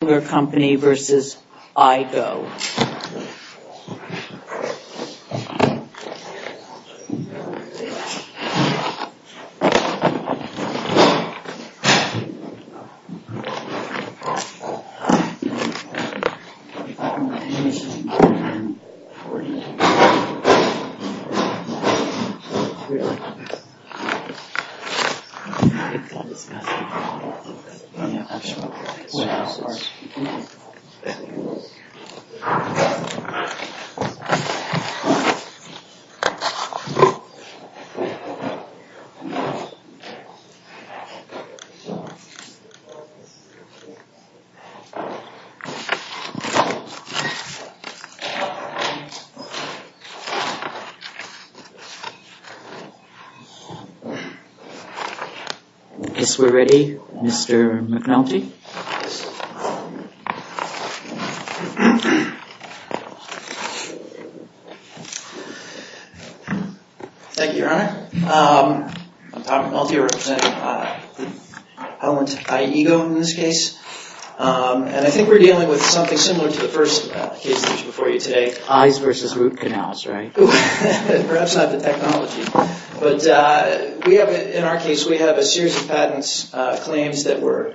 Hilsinger Company v. Eyeego Hilsinger Company v. Eyeego, LLC Hilsinger Company v. Eyeego, LLC Thank you, Your Honor. I'm Tom Maltier, representing Helen's Eyeego in this case. And I think we're dealing with something similar to the first case before you today. Eyes v. Root Canals, right? Perhaps not the technology. But in our case, we have a series of patents claims that were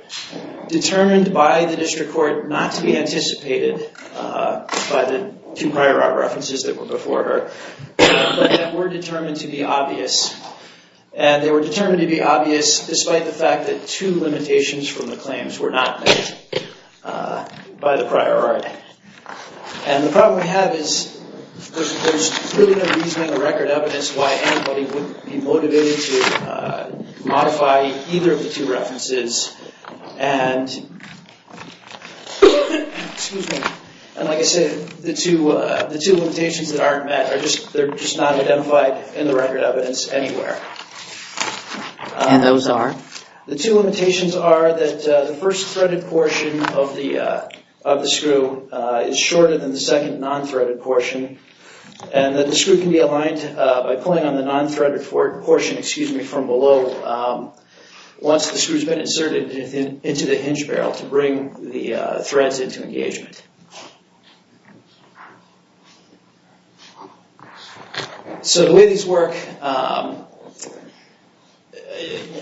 determined by the district court not to be anticipated by the two prior art references that were before her. But that were determined to be obvious. And they were determined to be obvious despite the fact that two limitations from the claims were not met by the prior art. And the problem we have is there's really no reasoning or record evidence why anybody wouldn't be motivated to modify either of the two references. And like I said, the two limitations that aren't met are just not identified in the record evidence anywhere. And those are? The two limitations are that the first threaded portion of the screw is shorter than the second non-threaded portion. And that the screw can be aligned by pulling on the non-threaded portion from below once the screw's been inserted into the hinge barrel to bring the threads into engagement. So the way these work,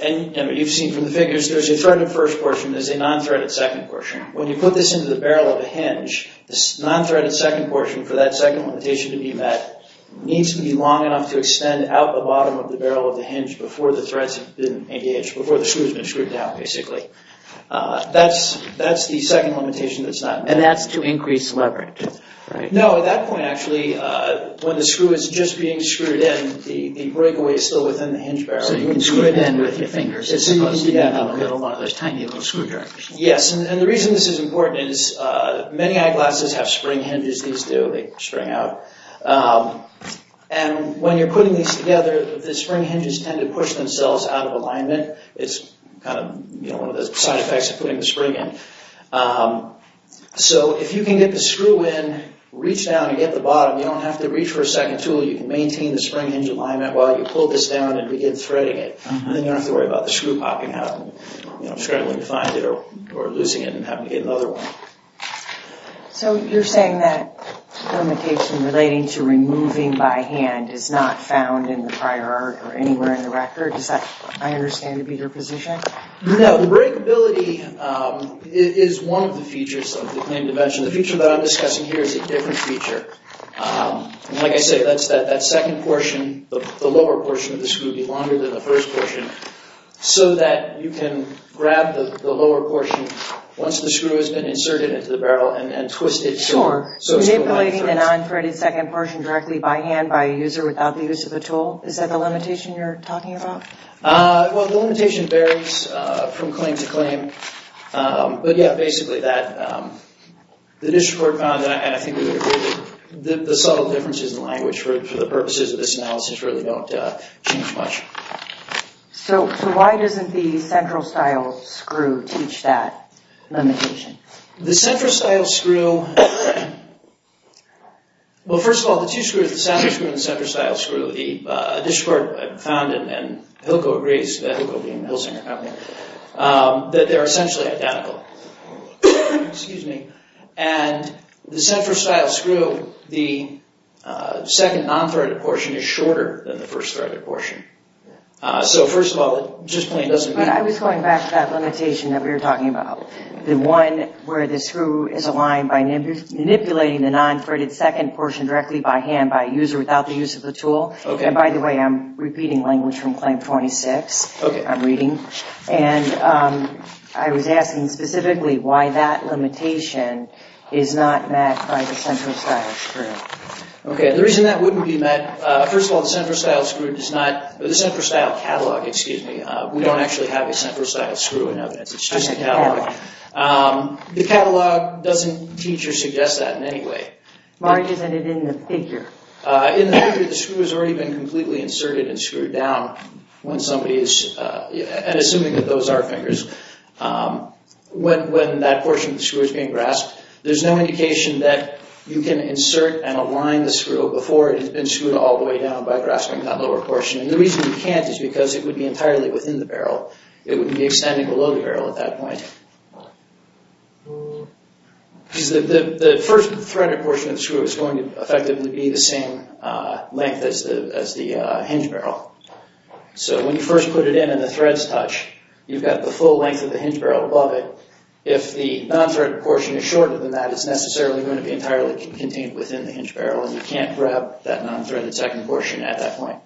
and you've seen from the figures, there's a threaded first portion, there's a non-threaded second portion. When you put this into the barrel of a hinge, this non-threaded second portion for that second limitation to be met needs to be long enough to extend out the bottom of the barrel of the hinge before the threads have been engaged, before the screw's been screwed down basically. That's the second limitation that's not met. And that's to increase leverage, right? No, at that point actually, when the screw is just being screwed in, the breakaway is still within the hinge barrel. So you can screw it in with your fingers. Yes, and the reason this is important is many eyeglasses have spring hinges, these do, they spring out. And when you're putting these together, the spring hinges tend to push themselves out of alignment. It's kind of one of the side effects of putting the spring in. So if you can get the screw in, reach down and get the bottom, you don't have to reach for a second tool. You can maintain the spring hinge alignment while you pull this down and begin threading it. Then you don't have to worry about the screw popping out and struggling to find it or losing it and having to get another one. So you're saying that the limitation relating to removing by hand is not found in the prior art or anywhere in the record? Is that, I understand, to be your position? No, the breakability is one of the features of the claimed invention. The feature that I'm discussing here is a different feature. Like I said, that second portion, the lower portion of the screw would be longer than the first portion. So that you can grab the lower portion once the screw has been inserted into the barrel and twist it. Sure, so manipulating the non-threaded second portion directly by hand by a user without the use of a tool, is that the limitation you're talking about? Well, the limitation varies from claim to claim. But yeah, basically that the district court found, and I think the subtle differences in language for the purposes of this analysis really don't change much. So why doesn't the central style screw teach that limitation? The central style screw, well first of all, the two screws, the center screw and the central style screw, the district court found and Hilco agrees, Hilco being the Hilsinger company, that they're essentially identical. Excuse me. And the central style screw, the second non-threaded portion is shorter than the first threaded portion. So first of all, it just plain doesn't mean... But I was going back to that limitation that we were talking about. The one where the screw is aligned by manipulating the non-threaded second portion directly by hand by a user without the use of the tool. And by the way, I'm repeating language from Claim 26. I'm reading. And I was asking specifically why that limitation is not met by the central style screw. Okay, the reason that wouldn't be met, first of all, the central style screw does not, the central style catalog, excuse me, we don't actually have a central style screw in evidence. It's just a catalog. The catalog doesn't teach or suggest that in any way. Why isn't it in the figure? In the figure, the screw has already been completely inserted and screwed down when somebody is, and assuming that those are fingers. When that portion of the screw is being grasped, there's no indication that you can insert and align the screw before it has been screwed all the way down by grasping that lower portion. And the reason you can't is because it would be entirely within the barrel. It wouldn't be extending below the barrel at that point. Because the first threaded portion of the screw is going to effectively be the same length as the hinge barrel. So when you first put it in and the threads touch, you've got the full length of the hinge barrel above it. So if the non-threaded portion is shorter than that, it's necessarily going to be entirely contained within the hinge barrel, and you can't grab that non-threaded second portion at that point.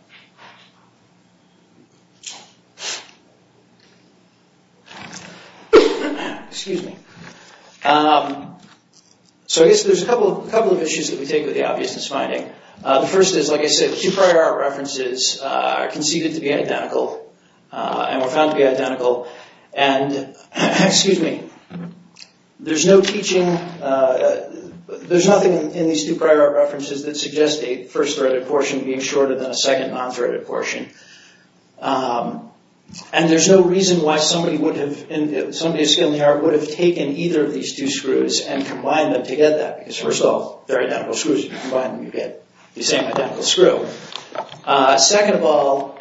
Excuse me. So I guess there's a couple of issues that we take with the obviousness finding. The first is, like I said, two prior art references are conceded to be identical, and were found to be identical. And, excuse me, there's no teaching, there's nothing in these two prior art references that suggests a first threaded portion being shorter than a second non-threaded portion. And there's no reason why somebody skilled in the art would have taken either of these two screws and combined them together. Because first of all, they're identical screws. You combine them, you get the same identical screw. Second of all,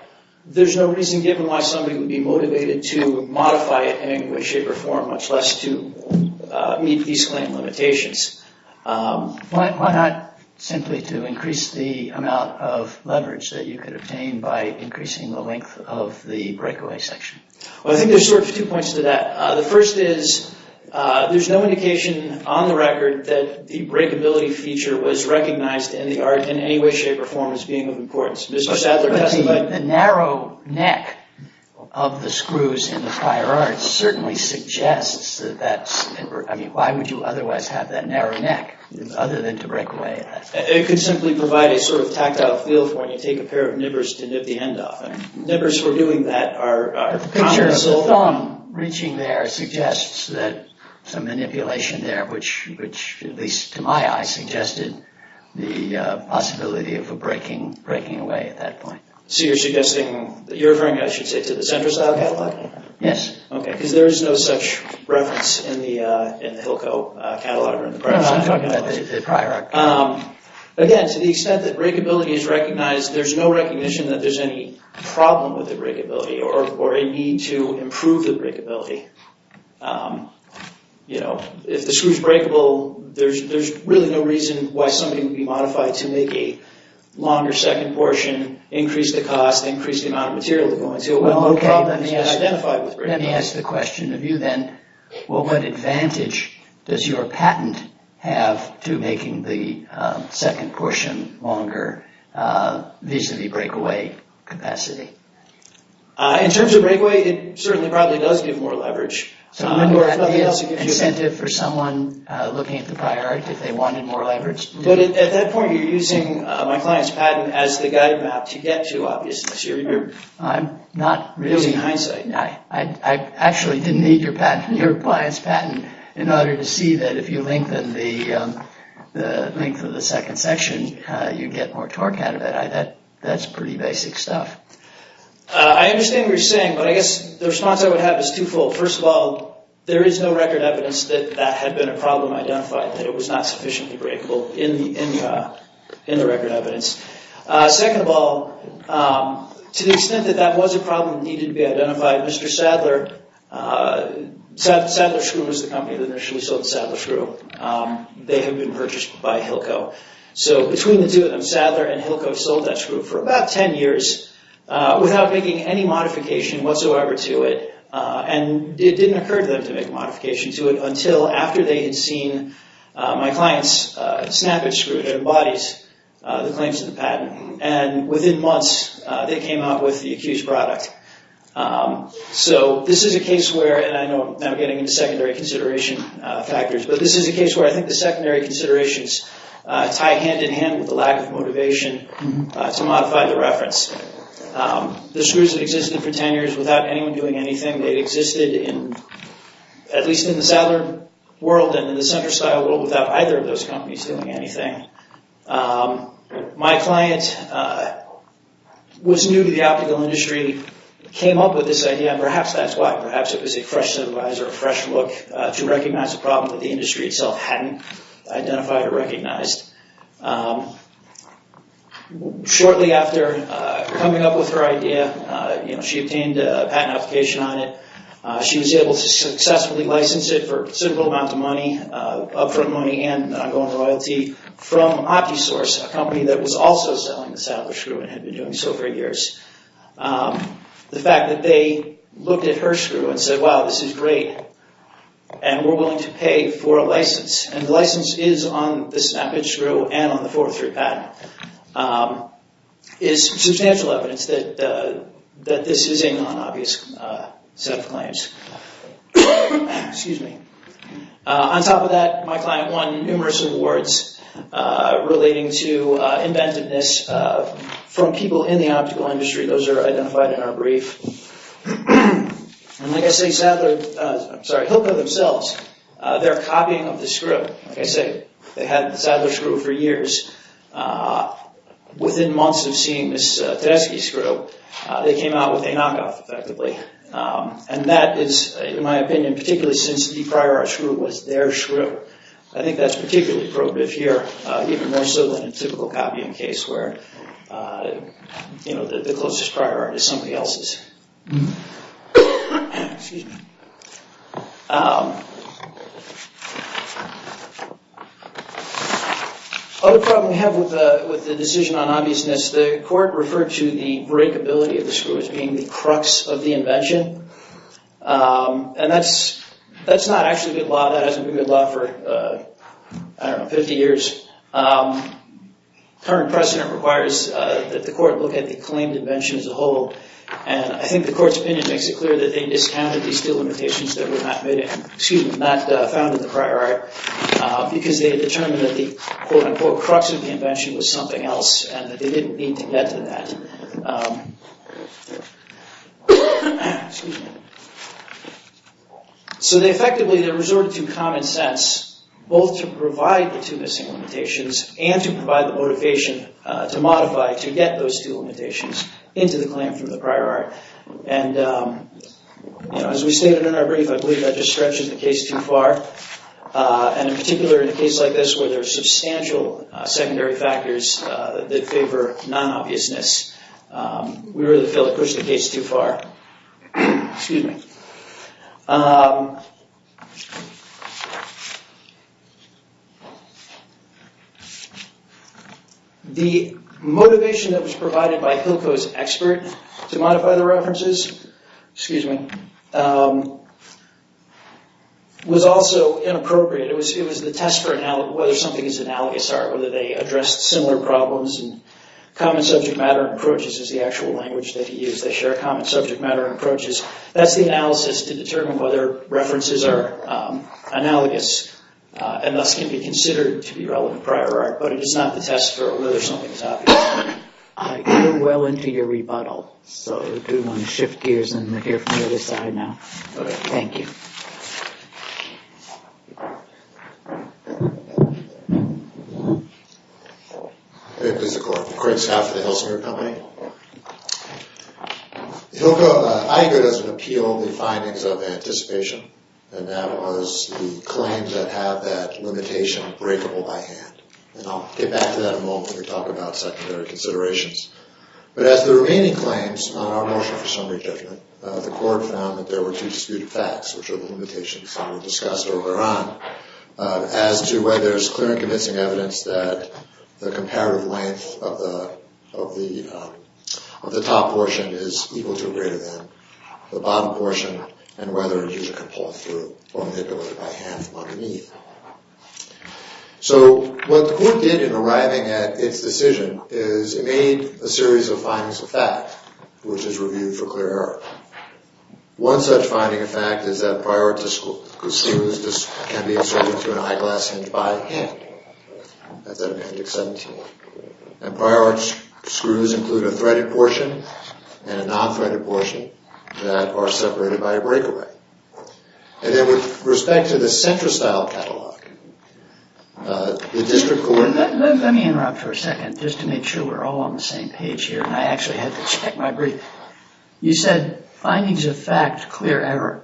there's no reason given why somebody would be motivated to modify it in any way, shape, or form, much less to meet these claim limitations. Why not simply to increase the amount of leverage that you could obtain by increasing the length of the breakaway section? Well, I think there's sort of two points to that. The first is, there's no indication on the record that the breakability feature was recognized in the art in any way, shape, or form as being of importance. The narrow neck of the screws in the prior art certainly suggests that that's... I mean, why would you otherwise have that narrow neck, other than to break away? It could simply provide a sort of tactile feel for when you take a pair of nibbers to nip the end off. Nibbers for doing that are... The picture of the thumb reaching there suggests that some manipulation there, which, at least to my eye, suggested the possibility of a breaking away at that point. So you're suggesting... you're referring, I should say, to the Centristyle catalog? Yes. Okay, because there is no such reference in the Hilco catalog or in the prior catalog. No, I'm talking about the prior... Again, to the extent that breakability is recognized, there's no recognition that there's any problem with the breakability or a need to improve the breakability. If the screw's breakable, there's really no reason why somebody would be modified to make a longer second portion, increase the cost, increase the amount of material they're going to. Well, okay, let me ask the question of you then. Well, what advantage does your patent have to making the second portion longer, vis-a-vis breakaway capacity? In terms of breakaway, it certainly probably does give more leverage. So wouldn't that be an incentive for someone looking at the prior act if they wanted more leverage? But at that point, you're using my client's patent as the guide map to get to, obviously. So you're using hindsight. I actually didn't need your client's patent in order to see that if you lengthen the length of the second section, you'd get more torque out of it. That's pretty basic stuff. I understand what you're saying, but I guess the response I would have is twofold. First of all, there is no record evidence that that had been a problem identified, that it was not sufficiently breakable in the record evidence. Second of all, to the extent that that was a problem that needed to be identified, Mr. Sadler, Sadler Screw was the company that initially sold Sadler Screw. They had been purchased by Hilco. So between the two of them, Sadler and Hilco sold that screw for about 10 years without making any modification whatsoever to it. And it didn't occur to them to make a modification to it until after they had seen my client's snappage screw that embodies the claims of the patent. And within months, they came out with the accused product. So this is a case where, and I know I'm now getting into secondary consideration factors, but this is a case where I think the secondary considerations tie hand-in-hand with the lack of motivation to modify the reference. The screws had existed for 10 years without anyone doing anything. They had existed in, at least in the Sadler world and in the center style world without either of those companies doing anything. My client was new to the optical industry, came up with this idea, and perhaps that's why, perhaps it was a fresh survise or a fresh look to recognize a problem that the industry itself hadn't identified or recognized. Shortly after coming up with her idea, she obtained a patent application on it. She was able to successfully license it for a considerable amount of money, upfront money and ongoing royalty, from Optisource, a company that was also selling the Sadler screw and had been doing so for years. The fact that they looked at her screw and said, wow, this is great, and we're willing to pay for a license, and the license is on the snappage screw and on the 403 patent, is substantial evidence that this is a non-obvious set of claims. Excuse me. On top of that, my client won numerous awards relating to inventiveness from people in the optical industry. Those are identified in our brief. And like I say, Hilco themselves, their copying of the screw, like I say, they had the Sadler screw for years. Within months of seeing this Tedeschi screw, they came out with a knockoff effectively. And that is, in my opinion, particularly since the prior art screw was their screw. I think that's particularly probative here, even more so than a typical copying case where the closest prior art is somebody else's. Another problem we have with the decision on obviousness, the court referred to the breakability of the screw as being the crux of the invention. And that's not actually good law. That hasn't been good law for, I don't know, 50 years. Current precedent requires that the court look at the claimed invention as a whole. And I think the court's opinion makes it clear that they discounted these two limitations that were not found in the prior art, because they determined that the, quote-unquote, crux of the invention was something else, and that they didn't need to get to that. So they effectively, they resorted to common sense, both to provide the two missing limitations and to provide the motivation to modify, to get those two limitations into the claim from the prior art. And as we stated in our brief, I believe that just stretches the case too far. And in particular, in a case like this where there are substantial secondary factors that favor non-obviousness, we really feel it pushed the case too far. Excuse me. The motivation that was provided by Hilco's expert to modify the references, excuse me, was also inappropriate. It was the test for whether something is analogous art, whether they addressed similar problems. And common subject matter approaches is the actual language that he used. They share common subject matter approaches. That's the analysis to determine whether references are analogous and thus can be considered to be relevant prior art. But it is not the test for whether something is obvious. You're well into your rebuttal. So do you want to shift gears and hear from the other side now? Okay. Thank you. Hey, Mr. Corwin. Craig Stafford, the Hilsinger Company. Hilco, I heard as an appeal the findings of anticipation, and that was the claims that have that limitation breakable by hand. And I'll get back to that in a moment when we talk about secondary considerations. But as the remaining claims on our motion for summary judgment, the court found that there were two disputed facts, which are the limitations that were discussed earlier on, as to whether there's clear and convincing evidence that the comparative length of the top portion is equal to or greater than the bottom portion, and whether a user can pull through or manipulate it by hand from underneath. So what the court did in arriving at its decision is it made a series of findings of fact, which is reviewed for clear error. One such finding of fact is that prior art can be inserted into an eyeglass hinge by hand. That's out of appendix 17. And prior art screws include a threaded portion and a non-threaded portion that are separated by a breakaway. And then with respect to the central style catalog, the district court... Let me interrupt for a second just to make sure we're all on the same page here, and I actually had to check my brief. You said findings of fact, clear error.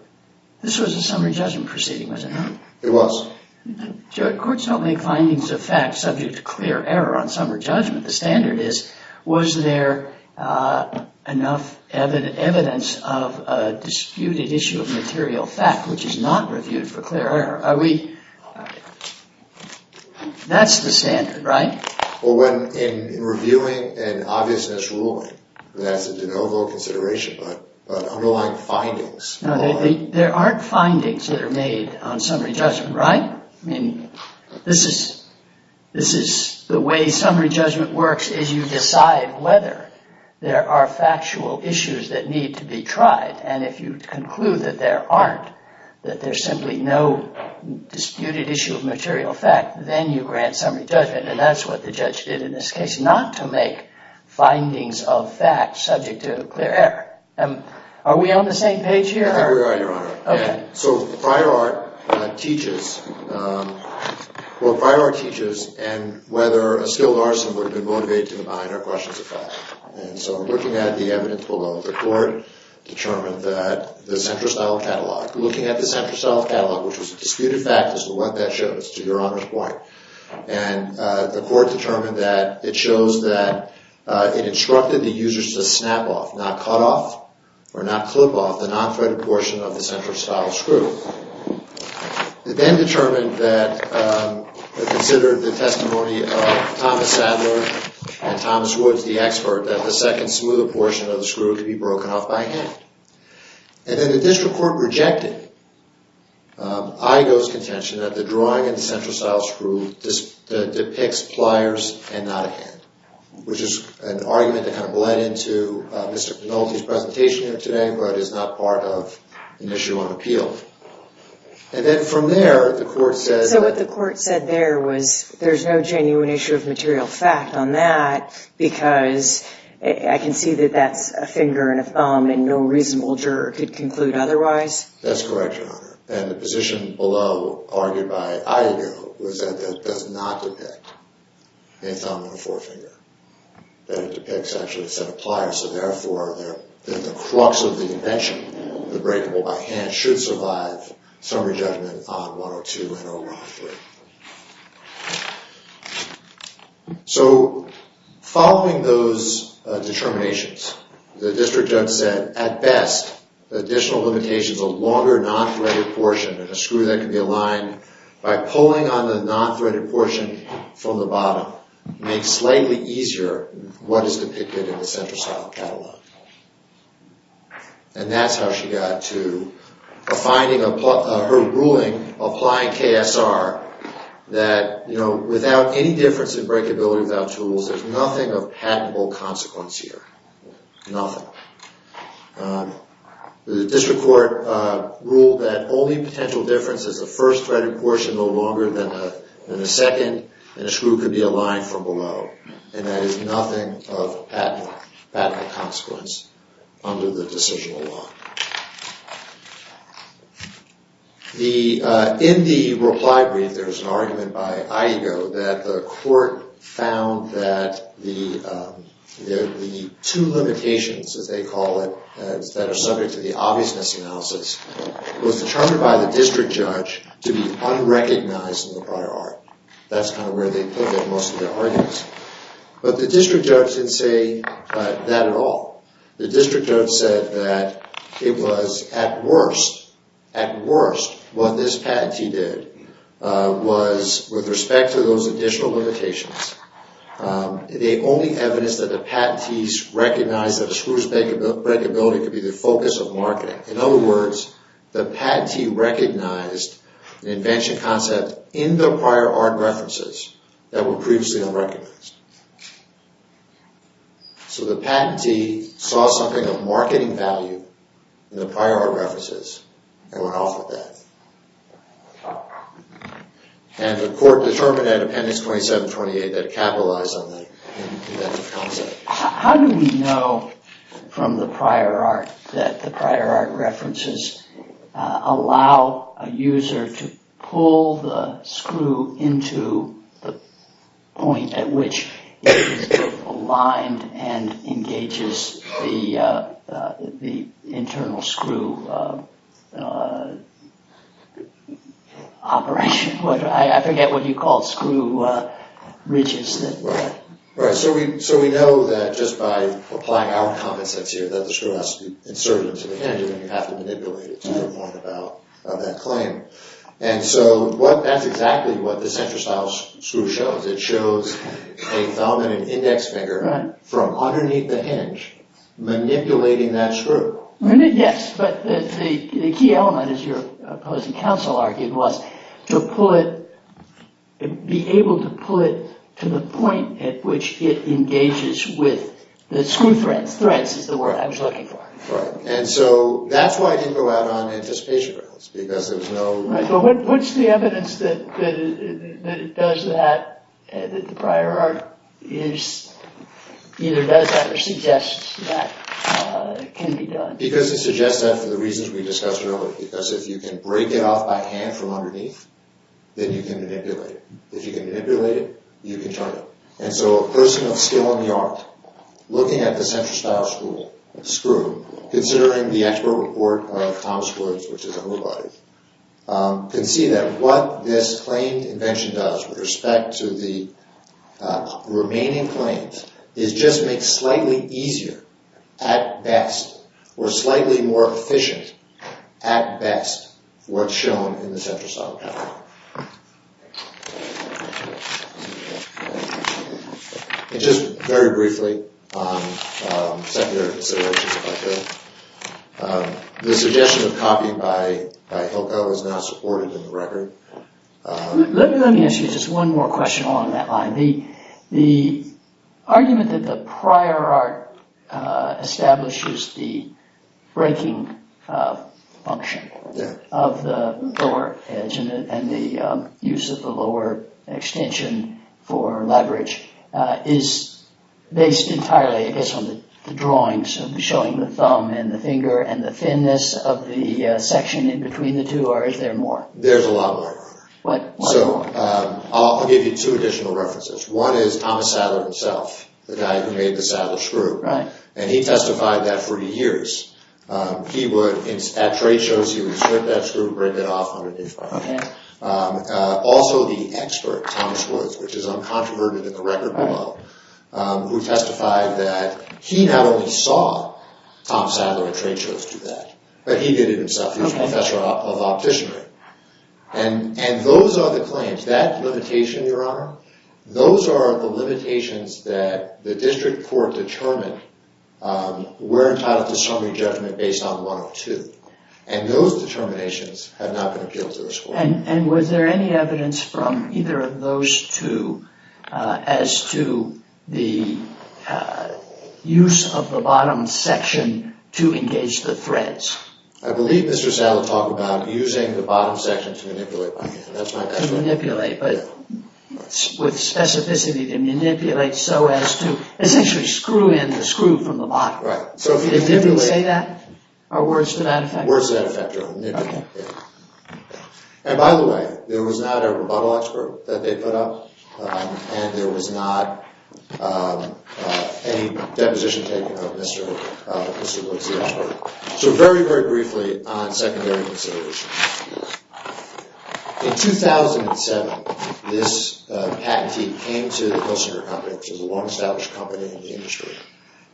This was a summary judgment proceeding, wasn't it? It was. Courts don't make findings of fact subject to clear error on summary judgment. The standard is, was there enough evidence of a disputed issue of material fact, which is not reviewed for clear error? Are we... That's the standard, right? Well, in reviewing an obviousness ruling, that's a de novo consideration, but underlying findings... No, there aren't findings that are made on summary judgment, right? This is... The way summary judgment works is you decide whether there are factual issues that need to be tried, and if you conclude that there aren't, that there's simply no disputed issue of material fact, then you grant summary judgment, and that's what the judge did in this case, not to make findings of fact subject to clear error. Are we on the same page here? We are, Your Honor. Okay. So prior art teaches... Well, prior art teaches whether a skilled arson would have been motivated to combine or questions of fact, and so looking at the evidence below, the court determined that the center-style catalog, looking at the center-style catalog, which was a disputed fact as to what that shows, to Your Honor's point, and the court determined that it shows that it instructed the users to snap off, not cut off or not clip off, the non-threaded portion of the center-style screw. It then determined that... It considered the testimony of Thomas Sadler and Thomas Woods, the expert, that the second smoother portion of the screw could be broken off by hand. And then the district court rejected Igoe's contention that the drawing in the center-style screw depicts pliers and not a hand, which is an argument that kind of bled into Mr. Penalty's presentation here today but is not part of an issue on appeal. And then from there, the court said... So what the court said there was there's no genuine issue of material fact on that because I can see that that's a finger and a thumb and no reasonable juror could conclude otherwise? That's correct, Your Honor. And the position below, argued by Igoe, was that that does not depict a thumb and a forefinger, that it depicts actually a set of pliers, so therefore that the crux of the invention, the breakable by hand, should survive summary judgment on 102 and over on 3. So following those determinations, the district judge said, at best, the additional limitation is a longer non-threaded portion and a screw that can be aligned by pulling on the non-threaded portion from the bottom makes slightly easier what is depicted in the center-style catalog. And that's how she got to her ruling applying KSR that without any difference in breakability without tools, there's nothing of patentable consequence here. Nothing. The district court ruled that only potential difference is the first threaded portion no longer than the second, and a screw could be aligned from below. And that is nothing of patentable consequence under the decisional law. In the reply brief, there's an argument by Igoe that the court found that the two limitations, as they call it, that are subject to the obviousness analysis, was determined by the district judge to be unrecognized in the prior art. That's kind of where they put most of their arguments. But the district judge didn't say that at all. The district judge said that it was at worst, at worst, what this patentee did was, with respect to those additional limitations, they only evidenced that the patentees recognized that a screw's breakability could be the focus of marketing. In other words, the patentee recognized the invention concept in the prior art references that were previously unrecognized. So the patentee saw something of marketing value in the prior art references and went off with that. And the court determined that in appendix 2728 that it capitalized on the inventive concept. How do we know from the prior art that the prior art references allow a user to pull the screw into the point at which it is aligned and engages the internal screw operation? I forget what you call screw ridges. Right. So we know that just by applying our concepts here that the screw has to be inserted into the hinge and you have to manipulate it to get more out of that claim. And so that's exactly what the center-style screw shows. It shows a dominant index finger from underneath the hinge manipulating that screw. Yes, but the key element, as your opposing counsel argued, was to be able to pull it to the point at which it engages with the screw threads, is the word I was looking for. Right. And so that's why it didn't go out on anticipation rails, because there was no... What's the evidence that it does that, that the prior art either does that or suggests that it can be done? Because it suggests that for the reasons we discussed earlier. Because if you can break it off by hand from underneath, then you can manipulate it. If you can manipulate it, you can turn it. And so a person of skill in the art, looking at the center-style screw, considering the expert report of Thomas Woods, which is a whole body, can see that what this claimed invention does with respect to the remaining claims is just make slightly easier, at best, or slightly more efficient, at best, what's shown in the center-style pattern. And just very briefly, secondary considerations, if I could. The suggestion of copying by Hilco is now supported in the record. Let me ask you just one more question along that line. The argument that the prior art establishes the breaking function of the lower edge and the use of the lower extension for leverage is based entirely, I guess, on the drawings showing the thumb and the finger and the thinness of the section in between the two, or is there more? There's a lot more. So I'll give you two additional references. One is Thomas Sadler himself, the guy who made the Sadler screw. And he testified that for years. He would, at trade shows, he would strip that screw and break it off underneath. Also the expert, Thomas Woods, which is uncontroverted in the record below, who testified that he not only saw Thomas Sadler at trade shows do that, but he did it himself. He was a professor of opticianry. And those are the claims. That limitation, Your Honor, those are the limitations that the district court determined were entitled to summary judgment based on 102. And those determinations have not been appealed to this court. And was there any evidence from either of those two as to the use of the bottom section to engage the threads? I believe Mr. Sadler talked about using the bottom section to manipulate. That's my guess. To manipulate, but with specificity to manipulate so as to essentially screw in the screw from the bottom. Right. So if you manipulate... Did he say that? Or words to that effect? Words to that effect. Okay. And by the way, there was not a rebuttal expert that they put up. And there was not any deposition taken of Mr. Wilksey. So very, very briefly on secondary considerations. In 2007, this patentee came to the Kilsinger Company, which is a well-established company in the industry.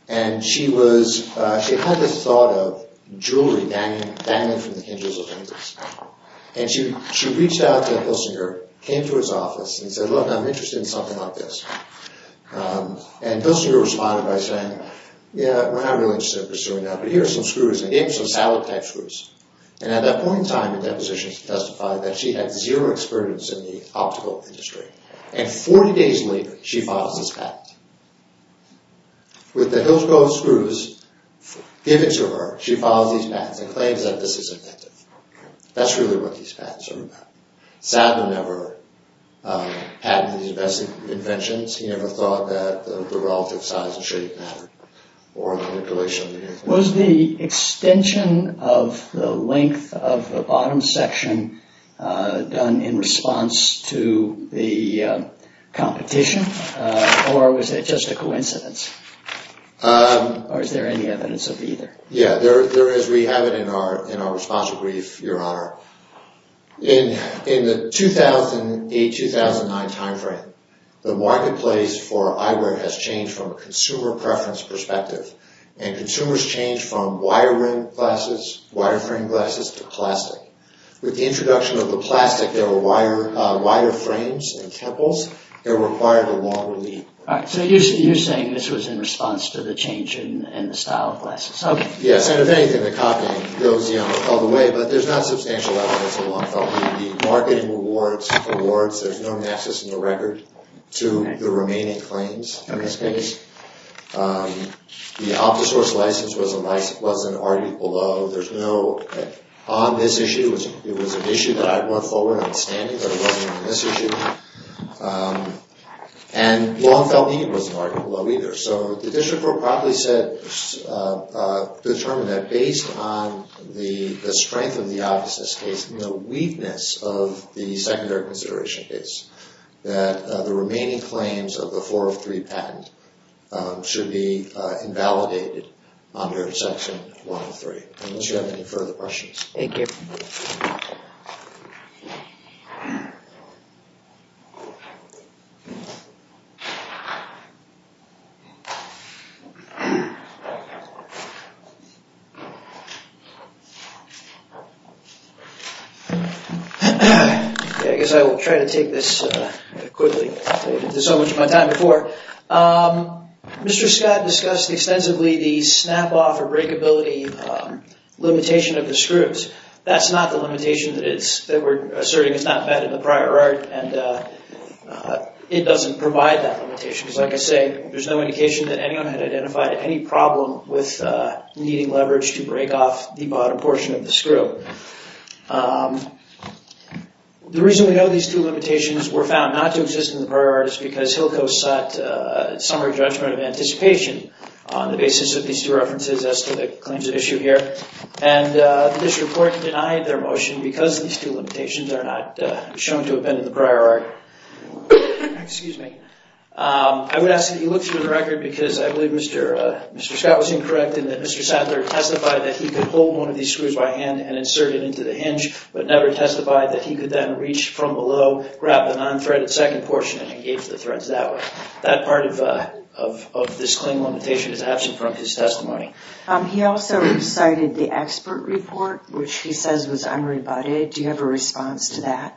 And she was... She had this thought of jewelry banging from the hinges of hinges. And she reached out to Kilsinger, came to his office, and said, look, I'm interested in something like this. And Kilsinger responded by saying, yeah, we're not really interested in pursuing that, but here are some screws. And he gave her some Sadler-type screws. And at that point in time, the depositions testified that she had zero experience in the optical industry. With the Hillsborough screws given to her, she files these patents and claims that this is inventive. That's really what these patents are about. Sadler never patented these inventions. He never thought that the relative size and shape mattered or the manipulation. Was the extension of the length of the bottom section done in response to the competition? Or was it just a coincidence? Or is there any evidence of either? Yeah, there is. We have it in our response brief, Your Honor. In the 2008-2009 timeframe, the marketplace for eyewear has changed from a consumer preference perspective. And consumers changed from wire-rimmed glasses, wire-framed glasses, to plastic. With the introduction of the plastic, there were wire frames and temples that required a longer lead. So you're saying this was in response to the change in the style of glasses. Yes. And if anything, the copying goes all the way. But there's not substantial evidence of long-felt need. The marketing awards, there's no nexus in the record to the remaining claims in this case. The OptiSource license wasn't argued below. There's no... On this issue, it was an issue that I went forward understanding, but it wasn't on this issue. And long-felt need wasn't argued below either. So the district court probably said... determined that based on the strength of the obviousness case and the weakness of the secondary consideration case, that the remaining claims of the 403 patent should be invalidated under Section 103. Unless you have any further questions. Thank you. Okay, I guess I will try to take this quickly. I did this so much of my time before. Mr. Scott discussed extensively the snap-off or breakability limitation of the screws. That's not the limitation that we're asserting is not bad in the prior art, and it doesn't provide that limitation. there's no indication of breakability of the screws. There's no indication that anyone had identified any problem with needing leverage to break off the bottom portion of the screw. The reason we know these two limitations were found not to exist in the prior art is because Hillco sought summary judgment of anticipation on the basis of these two references as to the claims at issue here. And the district court denied their motion because these two limitations are not shown to have been in the prior art. Excuse me. I would ask that you look through the record because I believe Mr. Scott was incorrect in that Mr. Sadler testified that he could hold one of these screws by hand and insert it into the hinge, but never testified that he could then reach from below, grab the non-threaded second portion and engage the threads that way. That part of this claim limitation is absent from his testimony. He also cited the expert report, which he says was unrebutted. Do you have a response to that?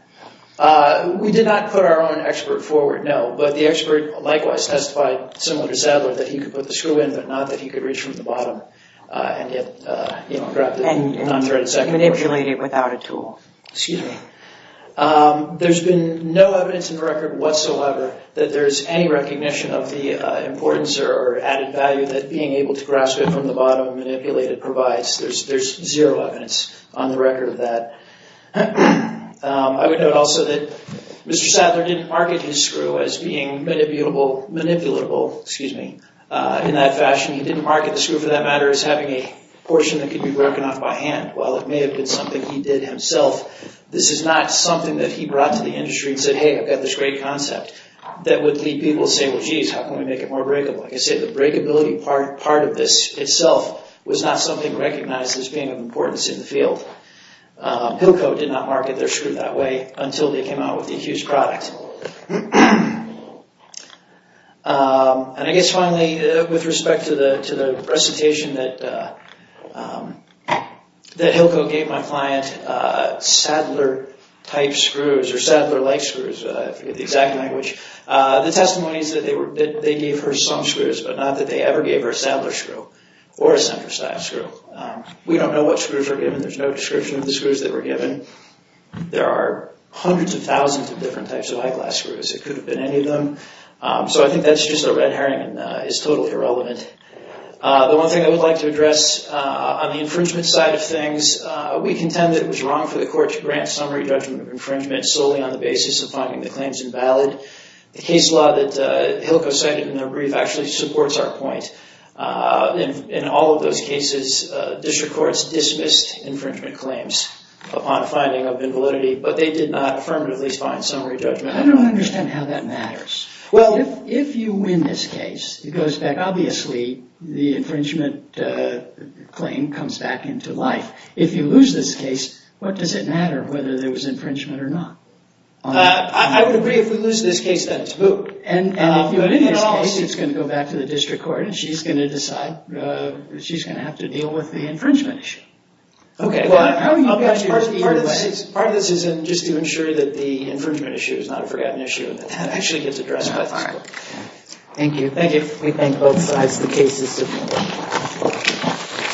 We did not put our own expert forward, no. But the expert likewise testified, similar to Sadler, that he could put the screw in, but not that he could reach from the bottom and grab the non-threaded second portion. And manipulate it without a tool. Excuse me. There's been no evidence in the record whatsoever that there's any recognition of the importance or added value that being able to grasp it from the bottom and manipulate it provides. There's zero evidence on the record of that. I would note also that Mr. Sadler didn't market his screw as being manipulatable, excuse me, in that fashion. He didn't market the screw, for that matter, as having a portion that could be broken off by hand. While it may have been something he did himself, this is not something that he brought to the industry and said, hey, I've got this great concept that would lead people to say, well, jeez, how can we make it more breakable? Like I said, the breakability part of this itself was not something recognized as being of importance in the field. Pilko did not market their screw that way until they came out with the accused product. And I guess finally, with respect to the recitation that Pilko gave my client, Sadler-type screws, or Sadler-like screws, I forget the exact language. The testimony is that they gave her some screws, but not that they ever gave her a Sadler screw or a center-sized screw. We don't know what screws were given. There's no description of the screws that were given. There are hundreds of thousands of different types of eyeglass screws. It could have been any of them. So I think that's just a red herring and is totally irrelevant. The one thing I would like to address on the infringement side of things, we contend that it was wrong for the court to grant summary judgment of infringement solely on the basis of finding the claims invalid. The case law that Pilko cited in the brief actually supports our point. In all of those cases, district courts dismissed infringement claims upon finding of invalidity, but they did not affirmatively find summary judgment. I don't understand how that matters. Well, if you win this case, it goes back, obviously, the infringement claim comes back into life. If you lose this case, what does it matter whether there was infringement or not? I would agree if we lose this case that it's booked. And if you win this case, it's going to go back to the district court, and she's going to decide she's going to have to deal with the infringement issue. Part of this is just to ensure that the infringement issue is not a forgotten issue and that that actually gets addressed by the court. Thank you. We thank both sides of the case.